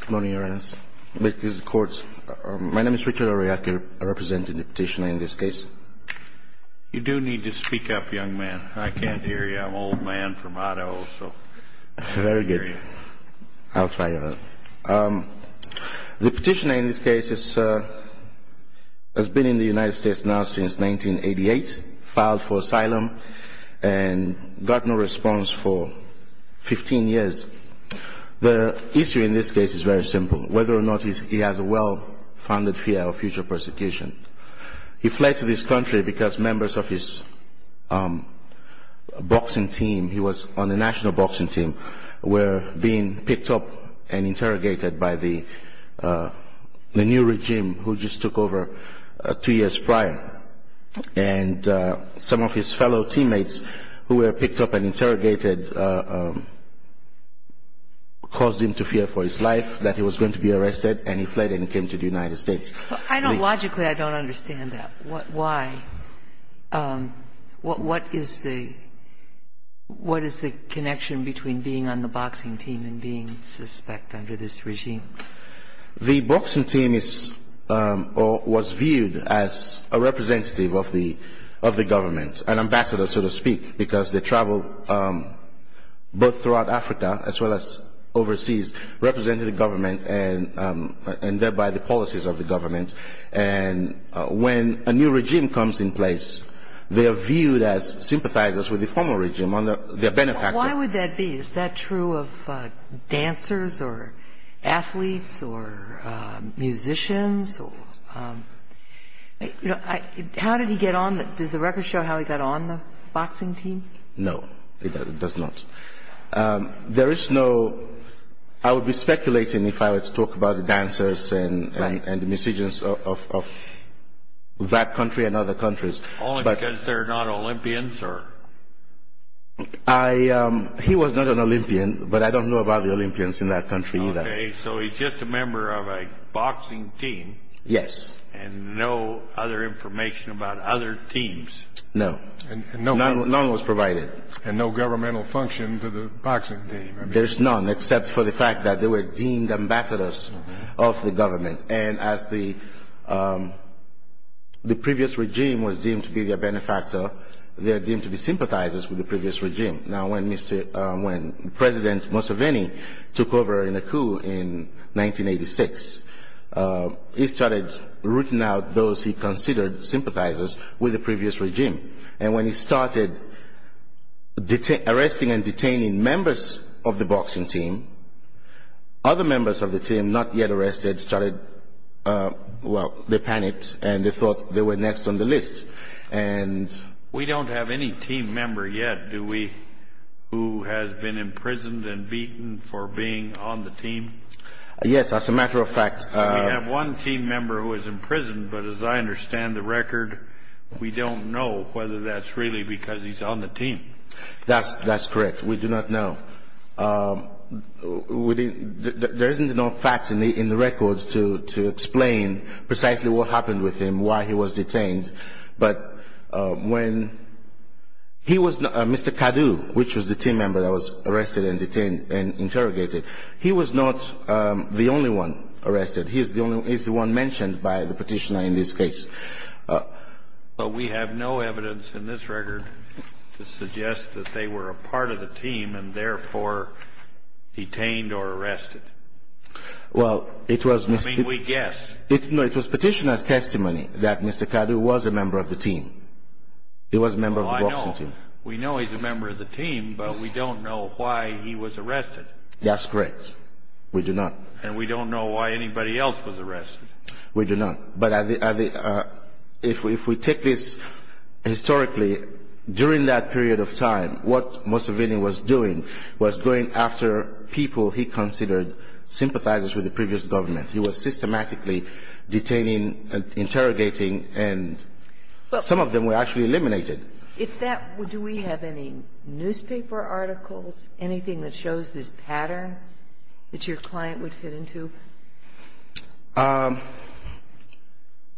Good morning, Your Honor. This is the court. My name is Richard Ariake, representing the petitioner in this case. You do need to speak up, young man. I can't hear you. I'm an old man from Idaho, so I can't hear you. Very good. I'll try. The petitioner in this case has been in the United States now since 1988, filed for asylum, and got no response for 15 years. The issue in this case is very simple, whether or not he has a well-founded fear of future persecution. He fled to this country because members of his boxing team, he was on the national boxing team, were being picked up and interrogated by the new regime, who just took over two years prior. And some of his fellow teammates who were picked up and interrogated caused him to fear for his life, that he was going to be arrested, and he fled and came to the United States. I don't logically understand that. Why? What is the connection between being on the boxing team and being suspect under this regime? The boxing team was viewed as a representative of the government, an ambassador, so to speak, because they travel both throughout Africa as well as overseas, representing the government and thereby the policies of the government. And when a new regime comes in place, they are viewed as sympathizers with the former regime. Why would that be? Is that true of dancers or athletes or musicians? How did he get on the – does the record show how he got on the boxing team? No, it does not. There is no – I would be speculating if I was to talk about the dancers and the musicians of that country and other countries. Only because they're not Olympians or – He was not an Olympian, but I don't know about the Olympians in that country either. Okay. So he's just a member of a boxing team. Yes. And no other information about other teams. No. None was provided. And no governmental function to the boxing team. There's none, except for the fact that they were deemed ambassadors of the government. And as the previous regime was deemed to be their benefactor, they are deemed to be sympathizers with the previous regime. Now, when President Museveni took over in a coup in 1986, he started rooting out those he considered sympathizers with the previous regime. And when he started arresting and detaining members of the boxing team, other members of the team not yet arrested started – well, they panicked and they thought they were next on the list. And – We don't have any team member yet, do we, who has been imprisoned and beaten for being on the team? Yes, as a matter of fact – We have one team member who was imprisoned, but as I understand the record, we don't know whether that's really because he's on the team. That's correct. We do not know. There isn't enough facts in the records to explain precisely what happened with him, why he was detained. But when he was – Mr. Kadu, which was the team member that was arrested and detained and interrogated, he was not the only one arrested. He's the one mentioned by the petitioner in this case. But we have no evidence in this record to suggest that they were a part of the team and therefore detained or arrested. Well, it was – I mean, we guess. No, it was petitioner's testimony that Mr. Kadu was a member of the team. He was a member of the boxing team. We know he's a member of the team, but we don't know why he was arrested. That's correct. We do not. And we don't know why anybody else was arrested. We do not. But if we take this historically, during that period of time, what Mussovini was doing was going after people he considered sympathizers with the previous government. He was systematically detaining and interrogating, and some of them were actually eliminated. If that – do we have any newspaper articles, anything that shows this pattern that your client would fit into?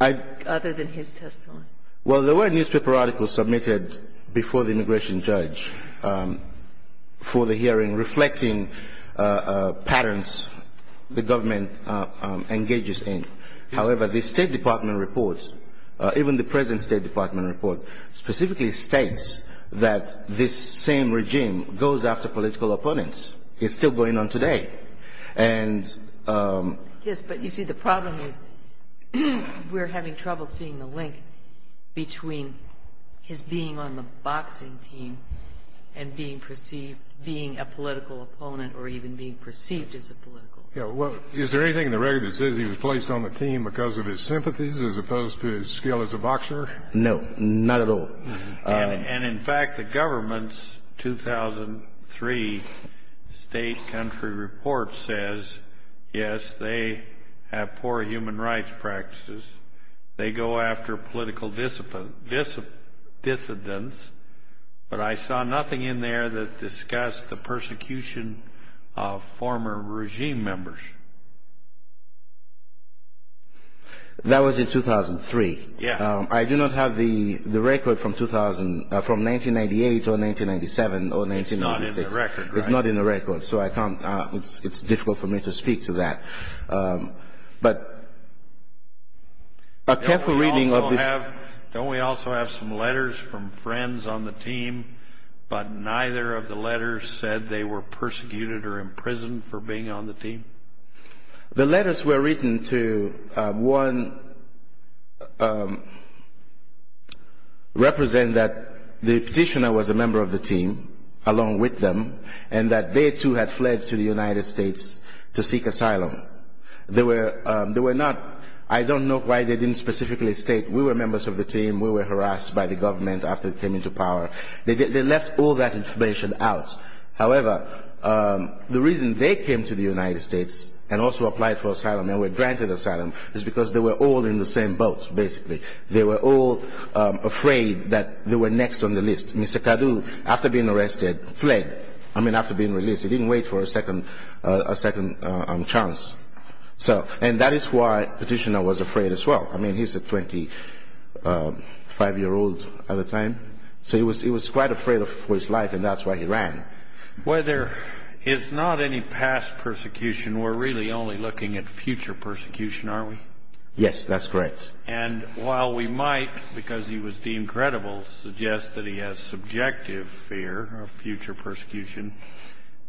Other than his testimony. Well, there were newspaper articles submitted before the immigration judge for the hearing reflecting patterns the government engages in. However, the State Department report, even the present State Department report, specifically states that this same regime goes after political opponents. It's still going on today. Yes, but you see, the problem is we're having trouble seeing the link between his being on the boxing team and being perceived – being a political opponent or even being perceived as a political opponent. Is there anything in the record that says he was placed on the team because of his sympathies as opposed to his skill as a boxer? No, not at all. And, in fact, the government's 2003 state country report says, yes, they have poor human rights practices. They go after political dissidents, but I saw nothing in there that discussed the persecution of former regime members. That was in 2003? Yes. I do not have the record from 2000 – from 1998 or 1997 or 1996. It's not in the record, right? It's not in the record, so I can't – it's difficult for me to speak to that. But a careful reading of this – Don't we also have some letters from friends on the team, but neither of the letters said they were persecuted or imprisoned for being on the team? The letters were written to, one, represent that the petitioner was a member of the team along with them and that they, too, had fled to the United States to seek asylum. They were not – I don't know why they didn't specifically state, we were members of the team, we were harassed by the government after we came into power. They left all that information out. However, the reason they came to the United States and also applied for asylum and were granted asylum is because they were all in the same boat, basically. They were all afraid that they were next on the list. Mr. Kadu, after being arrested, fled. I mean, after being released. He didn't wait for a second chance. And that is why the petitioner was afraid as well. I mean, he's a 25-year-old at the time, so he was quite afraid for his life, and that's why he ran. Well, there is not any past persecution. We're really only looking at future persecution, are we? Yes, that's correct. And while we might, because he was deemed credible, suggest that he has subjective fear of future persecution,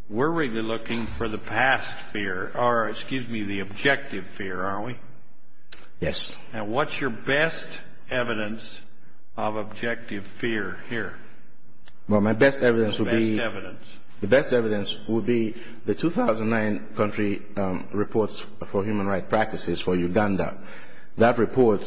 we're really looking for the past fear or, excuse me, the objective fear, are we? Yes. And what's your best evidence of objective fear here? Well, my best evidence would be the 2009 country reports for human rights practices for Uganda. That report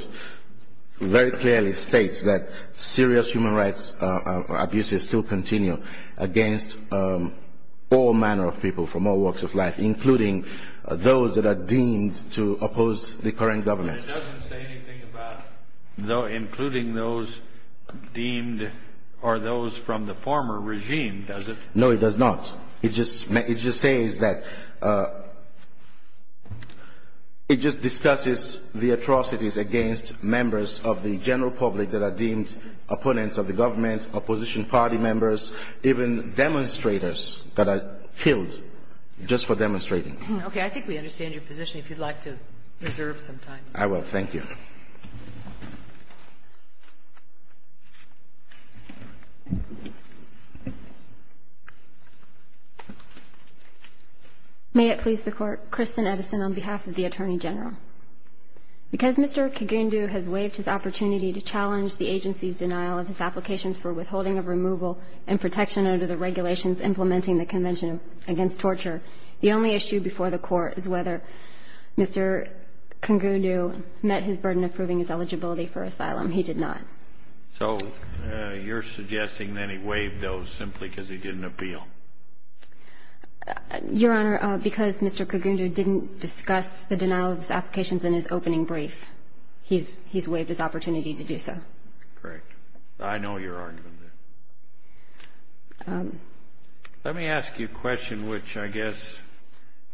very clearly states that serious human rights abuses still continue against all manner of people from all walks of life, including those that are deemed to oppose the current government. But it doesn't say anything about including those deemed or those from the former regime, does it? No, it does not. It just says that it just discusses the atrocities against members of the general public that are deemed opponents of the government, opposition party members, even demonstrators that are killed just for demonstrating. Okay. I think we understand your position. If you'd like to reserve some time. I will. Thank you. May it please the Court. Kristen Edison on behalf of the Attorney General. Because Mr. Kigundu has waived his opportunity to challenge the agency's denial of his applications for withholding of removal and protection under the regulations implementing the Convention Against Torture, the only issue before the Court is whether Mr. Kigundu met his burden of proving his eligibility for asylum. He did not. So you're suggesting that he waived those simply because he didn't appeal? Your Honor, because Mr. Kigundu didn't discuss the denial of his applications in his opening brief, he's waived his opportunity to do so. Correct. I know your argument. Let me ask you a question which I guess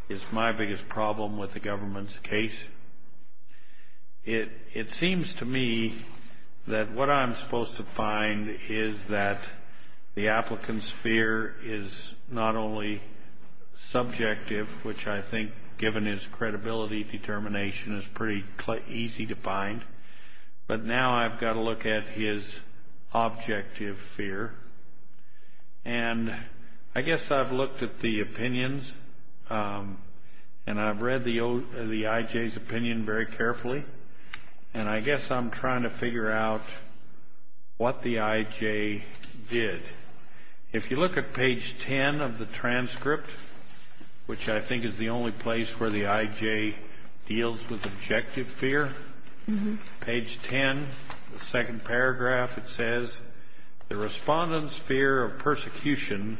is my biggest problem with the government's case. It seems to me that what I'm supposed to find is that the applicant's fear is not only subjective, which I think given his credibility determination is pretty easy to find, but now I've got to look at his objective fear. And I guess I've looked at the opinions and I've read the I.J.'s opinion very carefully, and I guess I'm trying to figure out what the I.J. did. If you look at page 10 of the transcript, which I think is the only place where the I.J. deals with objective fear, page 10, the second paragraph, it says, the respondent's fear of persecution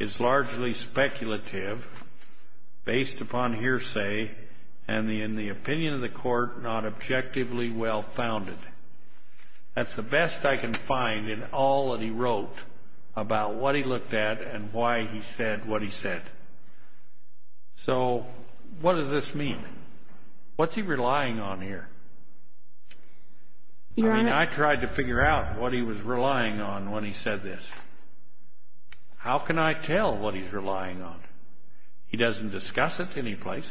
is largely speculative, based upon hearsay, and in the opinion of the Court, not objectively well-founded. That's the best I can find in all that he wrote about what he looked at and why he said what he said. So what does this mean? What's he relying on here? I mean, I tried to figure out what he was relying on when he said this. How can I tell what he's relying on? He doesn't discuss it any place.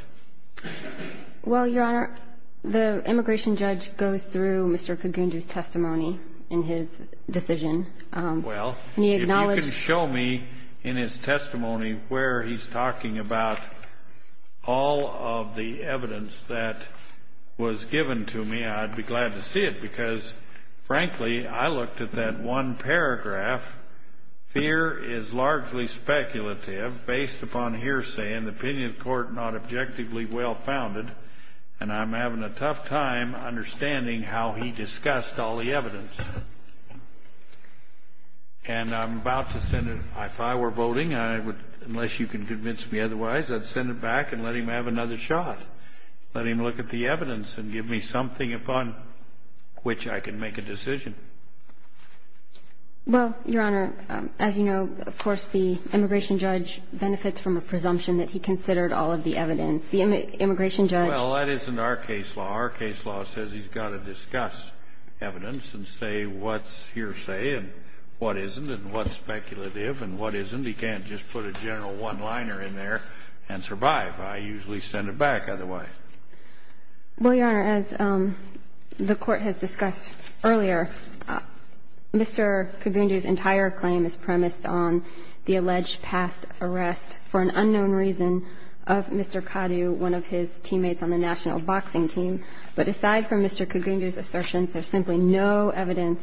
Well, Your Honor, the immigration judge goes through Mr. Cogundo's testimony in his decision. Well, if you can show me in his testimony where he's talking about all of the evidence that was given to me, I'd be glad to see it, because, frankly, I looked at that one paragraph, fear is largely speculative, based upon hearsay, and the opinion of the Court, not objectively well-founded, and I'm having a tough time understanding how he discussed all the evidence. And I'm about to send it, if I were voting, unless you can convince me otherwise, I'd send it back and let him have another shot, let him look at the evidence and give me something upon which I can make a decision. Well, Your Honor, as you know, of course, the immigration judge benefits from a presumption that he considered all of the evidence. The immigration judge... Well, that isn't our case law. Our case law says he's got to discuss evidence and say what's hearsay and what isn't and what's speculative and what isn't. He can't just put a general one-liner in there and survive. I usually send it back otherwise. Well, Your Honor, as the Court has discussed earlier, Mr. Kagundu's entire claim is premised on the alleged past arrest for an unknown reason of Mr. Kadu, one of his teammates on the national boxing team. But aside from Mr. Kagundu's assertion, there's simply no evidence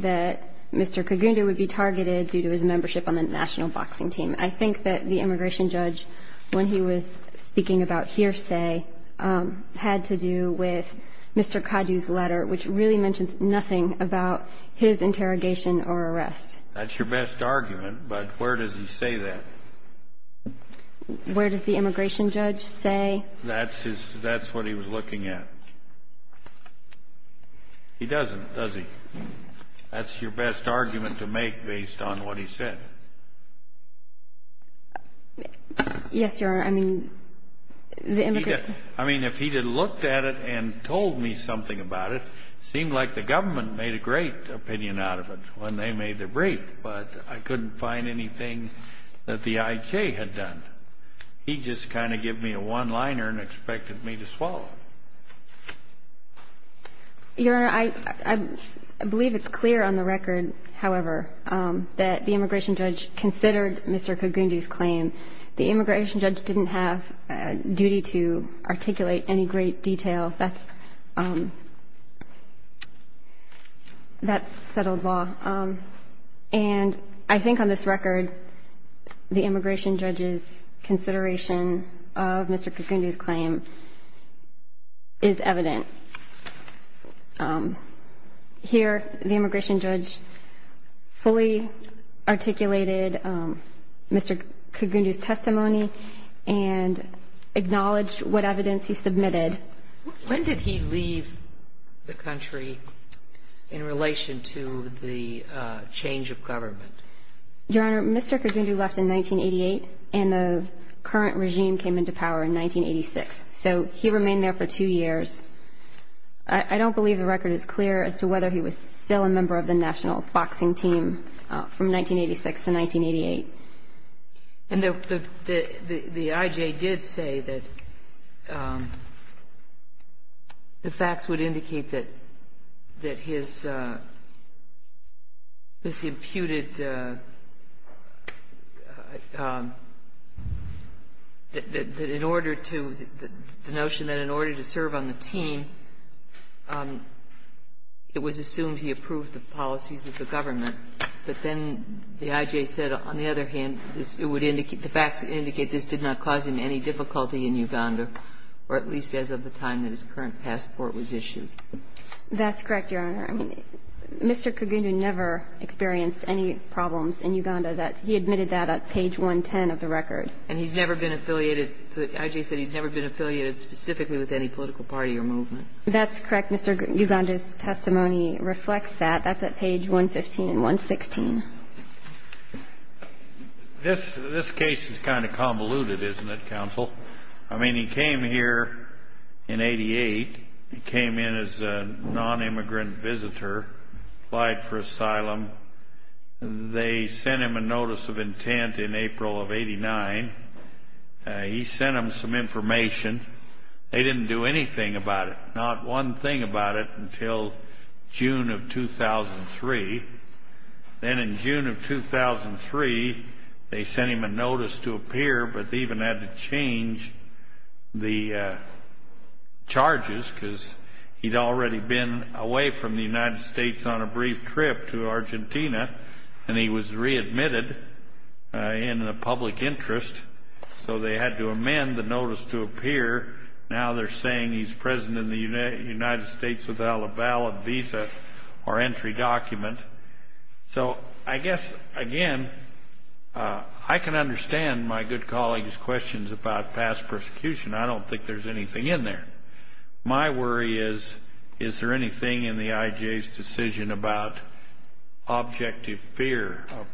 that Mr. Kagundu would be targeted due to his membership on the national boxing team. I think that the immigration judge, when he was speaking about hearsay, had to do with Mr. Kadu's letter, which really mentions nothing about his interrogation or arrest. That's your best argument, but where does he say that? Where does the immigration judge say? That's what he was looking at. He doesn't, does he? That's your best argument to make based on what he said. Yes, Your Honor. I mean, if he had looked at it and told me something about it, it seemed like the government made a great opinion out of it when they made the brief, but I couldn't find anything that the IJ had done. He just kind of gave me a one-liner and expected me to swallow it. Your Honor, I believe it's clear on the record, however, that the immigration judge considered Mr. Kagundu's claim. The immigration judge didn't have a duty to articulate any great detail. That's settled law. And I think on this record, the immigration judge's consideration of Mr. Kagundu's testimony is evident. Here, the immigration judge fully articulated Mr. Kagundu's testimony and acknowledged what evidence he submitted. When did he leave the country in relation to the change of government? Your Honor, Mr. Kagundu left in 1988, and the current regime came into power in 1986. So he remained there for two years. I don't believe the record is clear as to whether he was still a member of the national boxing team from 1986 to 1988. And the IJ did say that the facts would indicate that his, this imputed, that in order to, the notion that in order to serve on the team, it was assumed he approved the policies of the government. But then the IJ said, on the other hand, it would indicate, the facts would indicate this did not cause him any difficulty in Uganda, or at least as of the time that his current passport was issued. That's correct, Your Honor. I mean, Mr. Kagundu never experienced any problems in Uganda that he admitted that at page 110 of the record. And he's never been affiliated, the IJ said he's never been affiliated specifically with any political party or movement. That's correct. Mr. Kagundu's testimony reflects that. That's at page 115 and 116. This case is kind of convoluted, isn't it, counsel? I mean, he came here in 88. He came in as a non-immigrant visitor, applied for asylum. They sent him a notice of intent in April of 89. He sent them some information. They didn't do anything about it. Not one thing about it until June of 2003. Then in June of 2003, they sent him a notice to appear, but they even had to change the charges because he'd already been away from the United States on a brief trip to Argentina, and he was readmitted in the public interest. Here, now they're saying he's present in the United States without a valid visa or entry document. So I guess, again, I can understand my good colleague's questions about past persecution. I don't think there's anything in there. My worry is, is there anything in the IJ's decision about objective fear of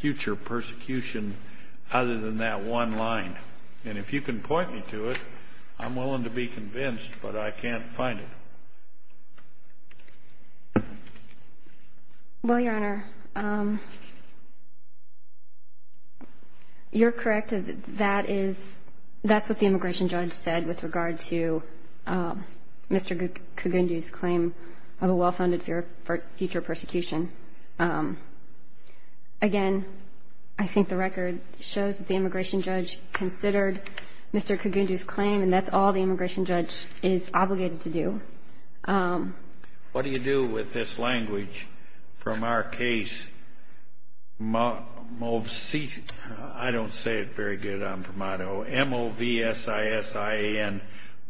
future persecution other than that one line? And if you can point me to it, I'm willing to be convinced, but I can't find it. Well, Your Honor, you're correct. That is what the immigration judge said with regard to Mr. Kogundi's claim of a well-founded fear of future persecution. Again, I think the record shows that the immigration judge considered Mr. Kogundi's claim, and that's all the immigration judge is obligated to do. What do you do with this language from our case? I don't say it very good on promoto. M-O-V-S-I-S-I-A-N.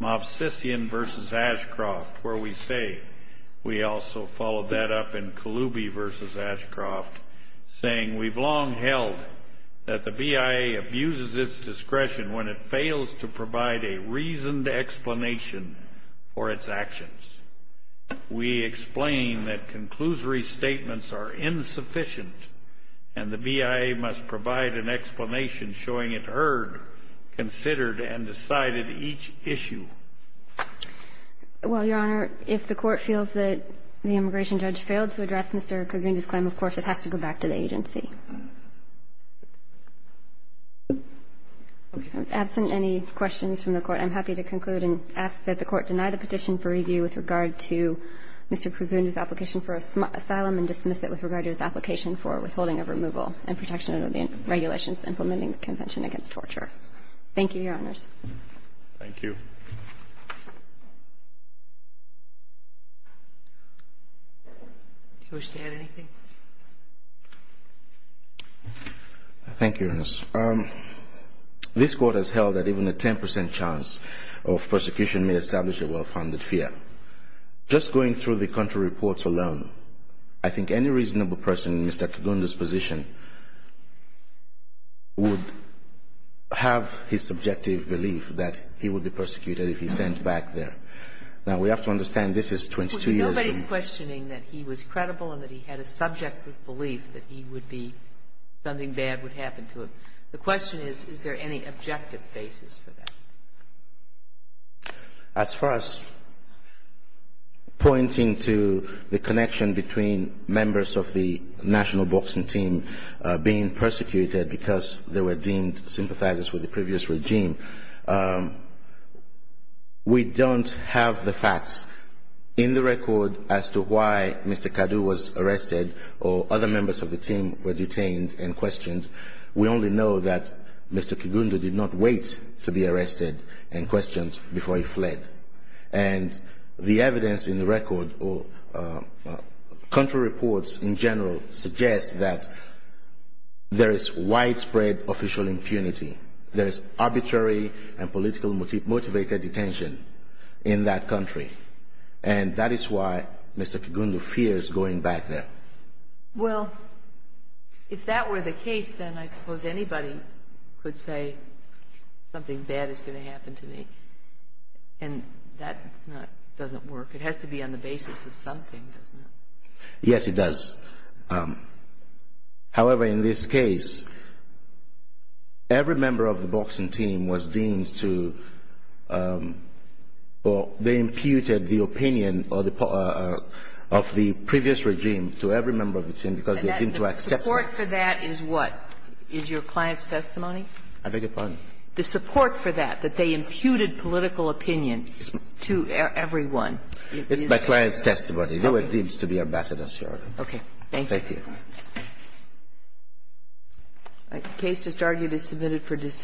M-O-V-S-I-S-I-A-N versus Ashcroft, where we say, we also followed that up in Kaloubi versus Ashcroft, saying, we've long held that the BIA abuses its discretion when it fails to provide a reasoned explanation for its actions. We explain that conclusory statements are insufficient, and the BIA must provide an explanation. Well, Your Honor, if the Court feels that the immigration judge failed to address Mr. Kogundi's claim, of course, it has to go back to the agency. Okay. Absent any questions from the Court, I'm happy to conclude and ask that the Court deny the petition for review with regard to Mr. Kogundi's application for asylum and dismiss it with regard to his application for withholding of removal and protection of the regulations implementing the Convention Against Torture. Thank you, Your Honors. Thank you. Do you wish to add anything? Thank you, Your Honor. This Court has held that even a 10 percent chance of persecution may establish a well-founded fear. Just going through the country reports alone, I think any reasonable person in Mr. Kogundi's position would have his subjective belief that he would be persecuted if he's sent back there. Now, we have to understand this is 22 years ago. Well, nobody's questioning that he was credible and that he had a subjective belief that he would be — something bad would happen to him. As far as pointing to the connection between members of the national boxing team being persecuted because they were deemed sympathizers with the previous regime, we don't have the facts in the record as to why Mr. Kadu was arrested or other members of the team were detained and questioned. We only know that Mr. Kogundi did not wait to be arrested and questioned before he fled. And the evidence in the record or country reports in general suggest that there is widespread official impunity. There is arbitrary and politically motivated detention in that country. And that is why Mr. Kogundi fears going back there. Well, if that were the case, then I suppose anybody could say something bad is going to happen to me. And that's not — doesn't work. It has to be on the basis of something, doesn't it? Yes, it does. However, in this case, every member of the boxing team was deemed to — or they imputed the opinion of the previous regime to every member of the team because they deemed to accept it. And the support for that is what? Is your client's testimony? I beg your pardon? The support for that, that they imputed political opinions to everyone. It's my client's testimony. They were deemed to be ambassadors, Your Honor. Okay. Thank you. Thank you. The case just argued is submitted for decision.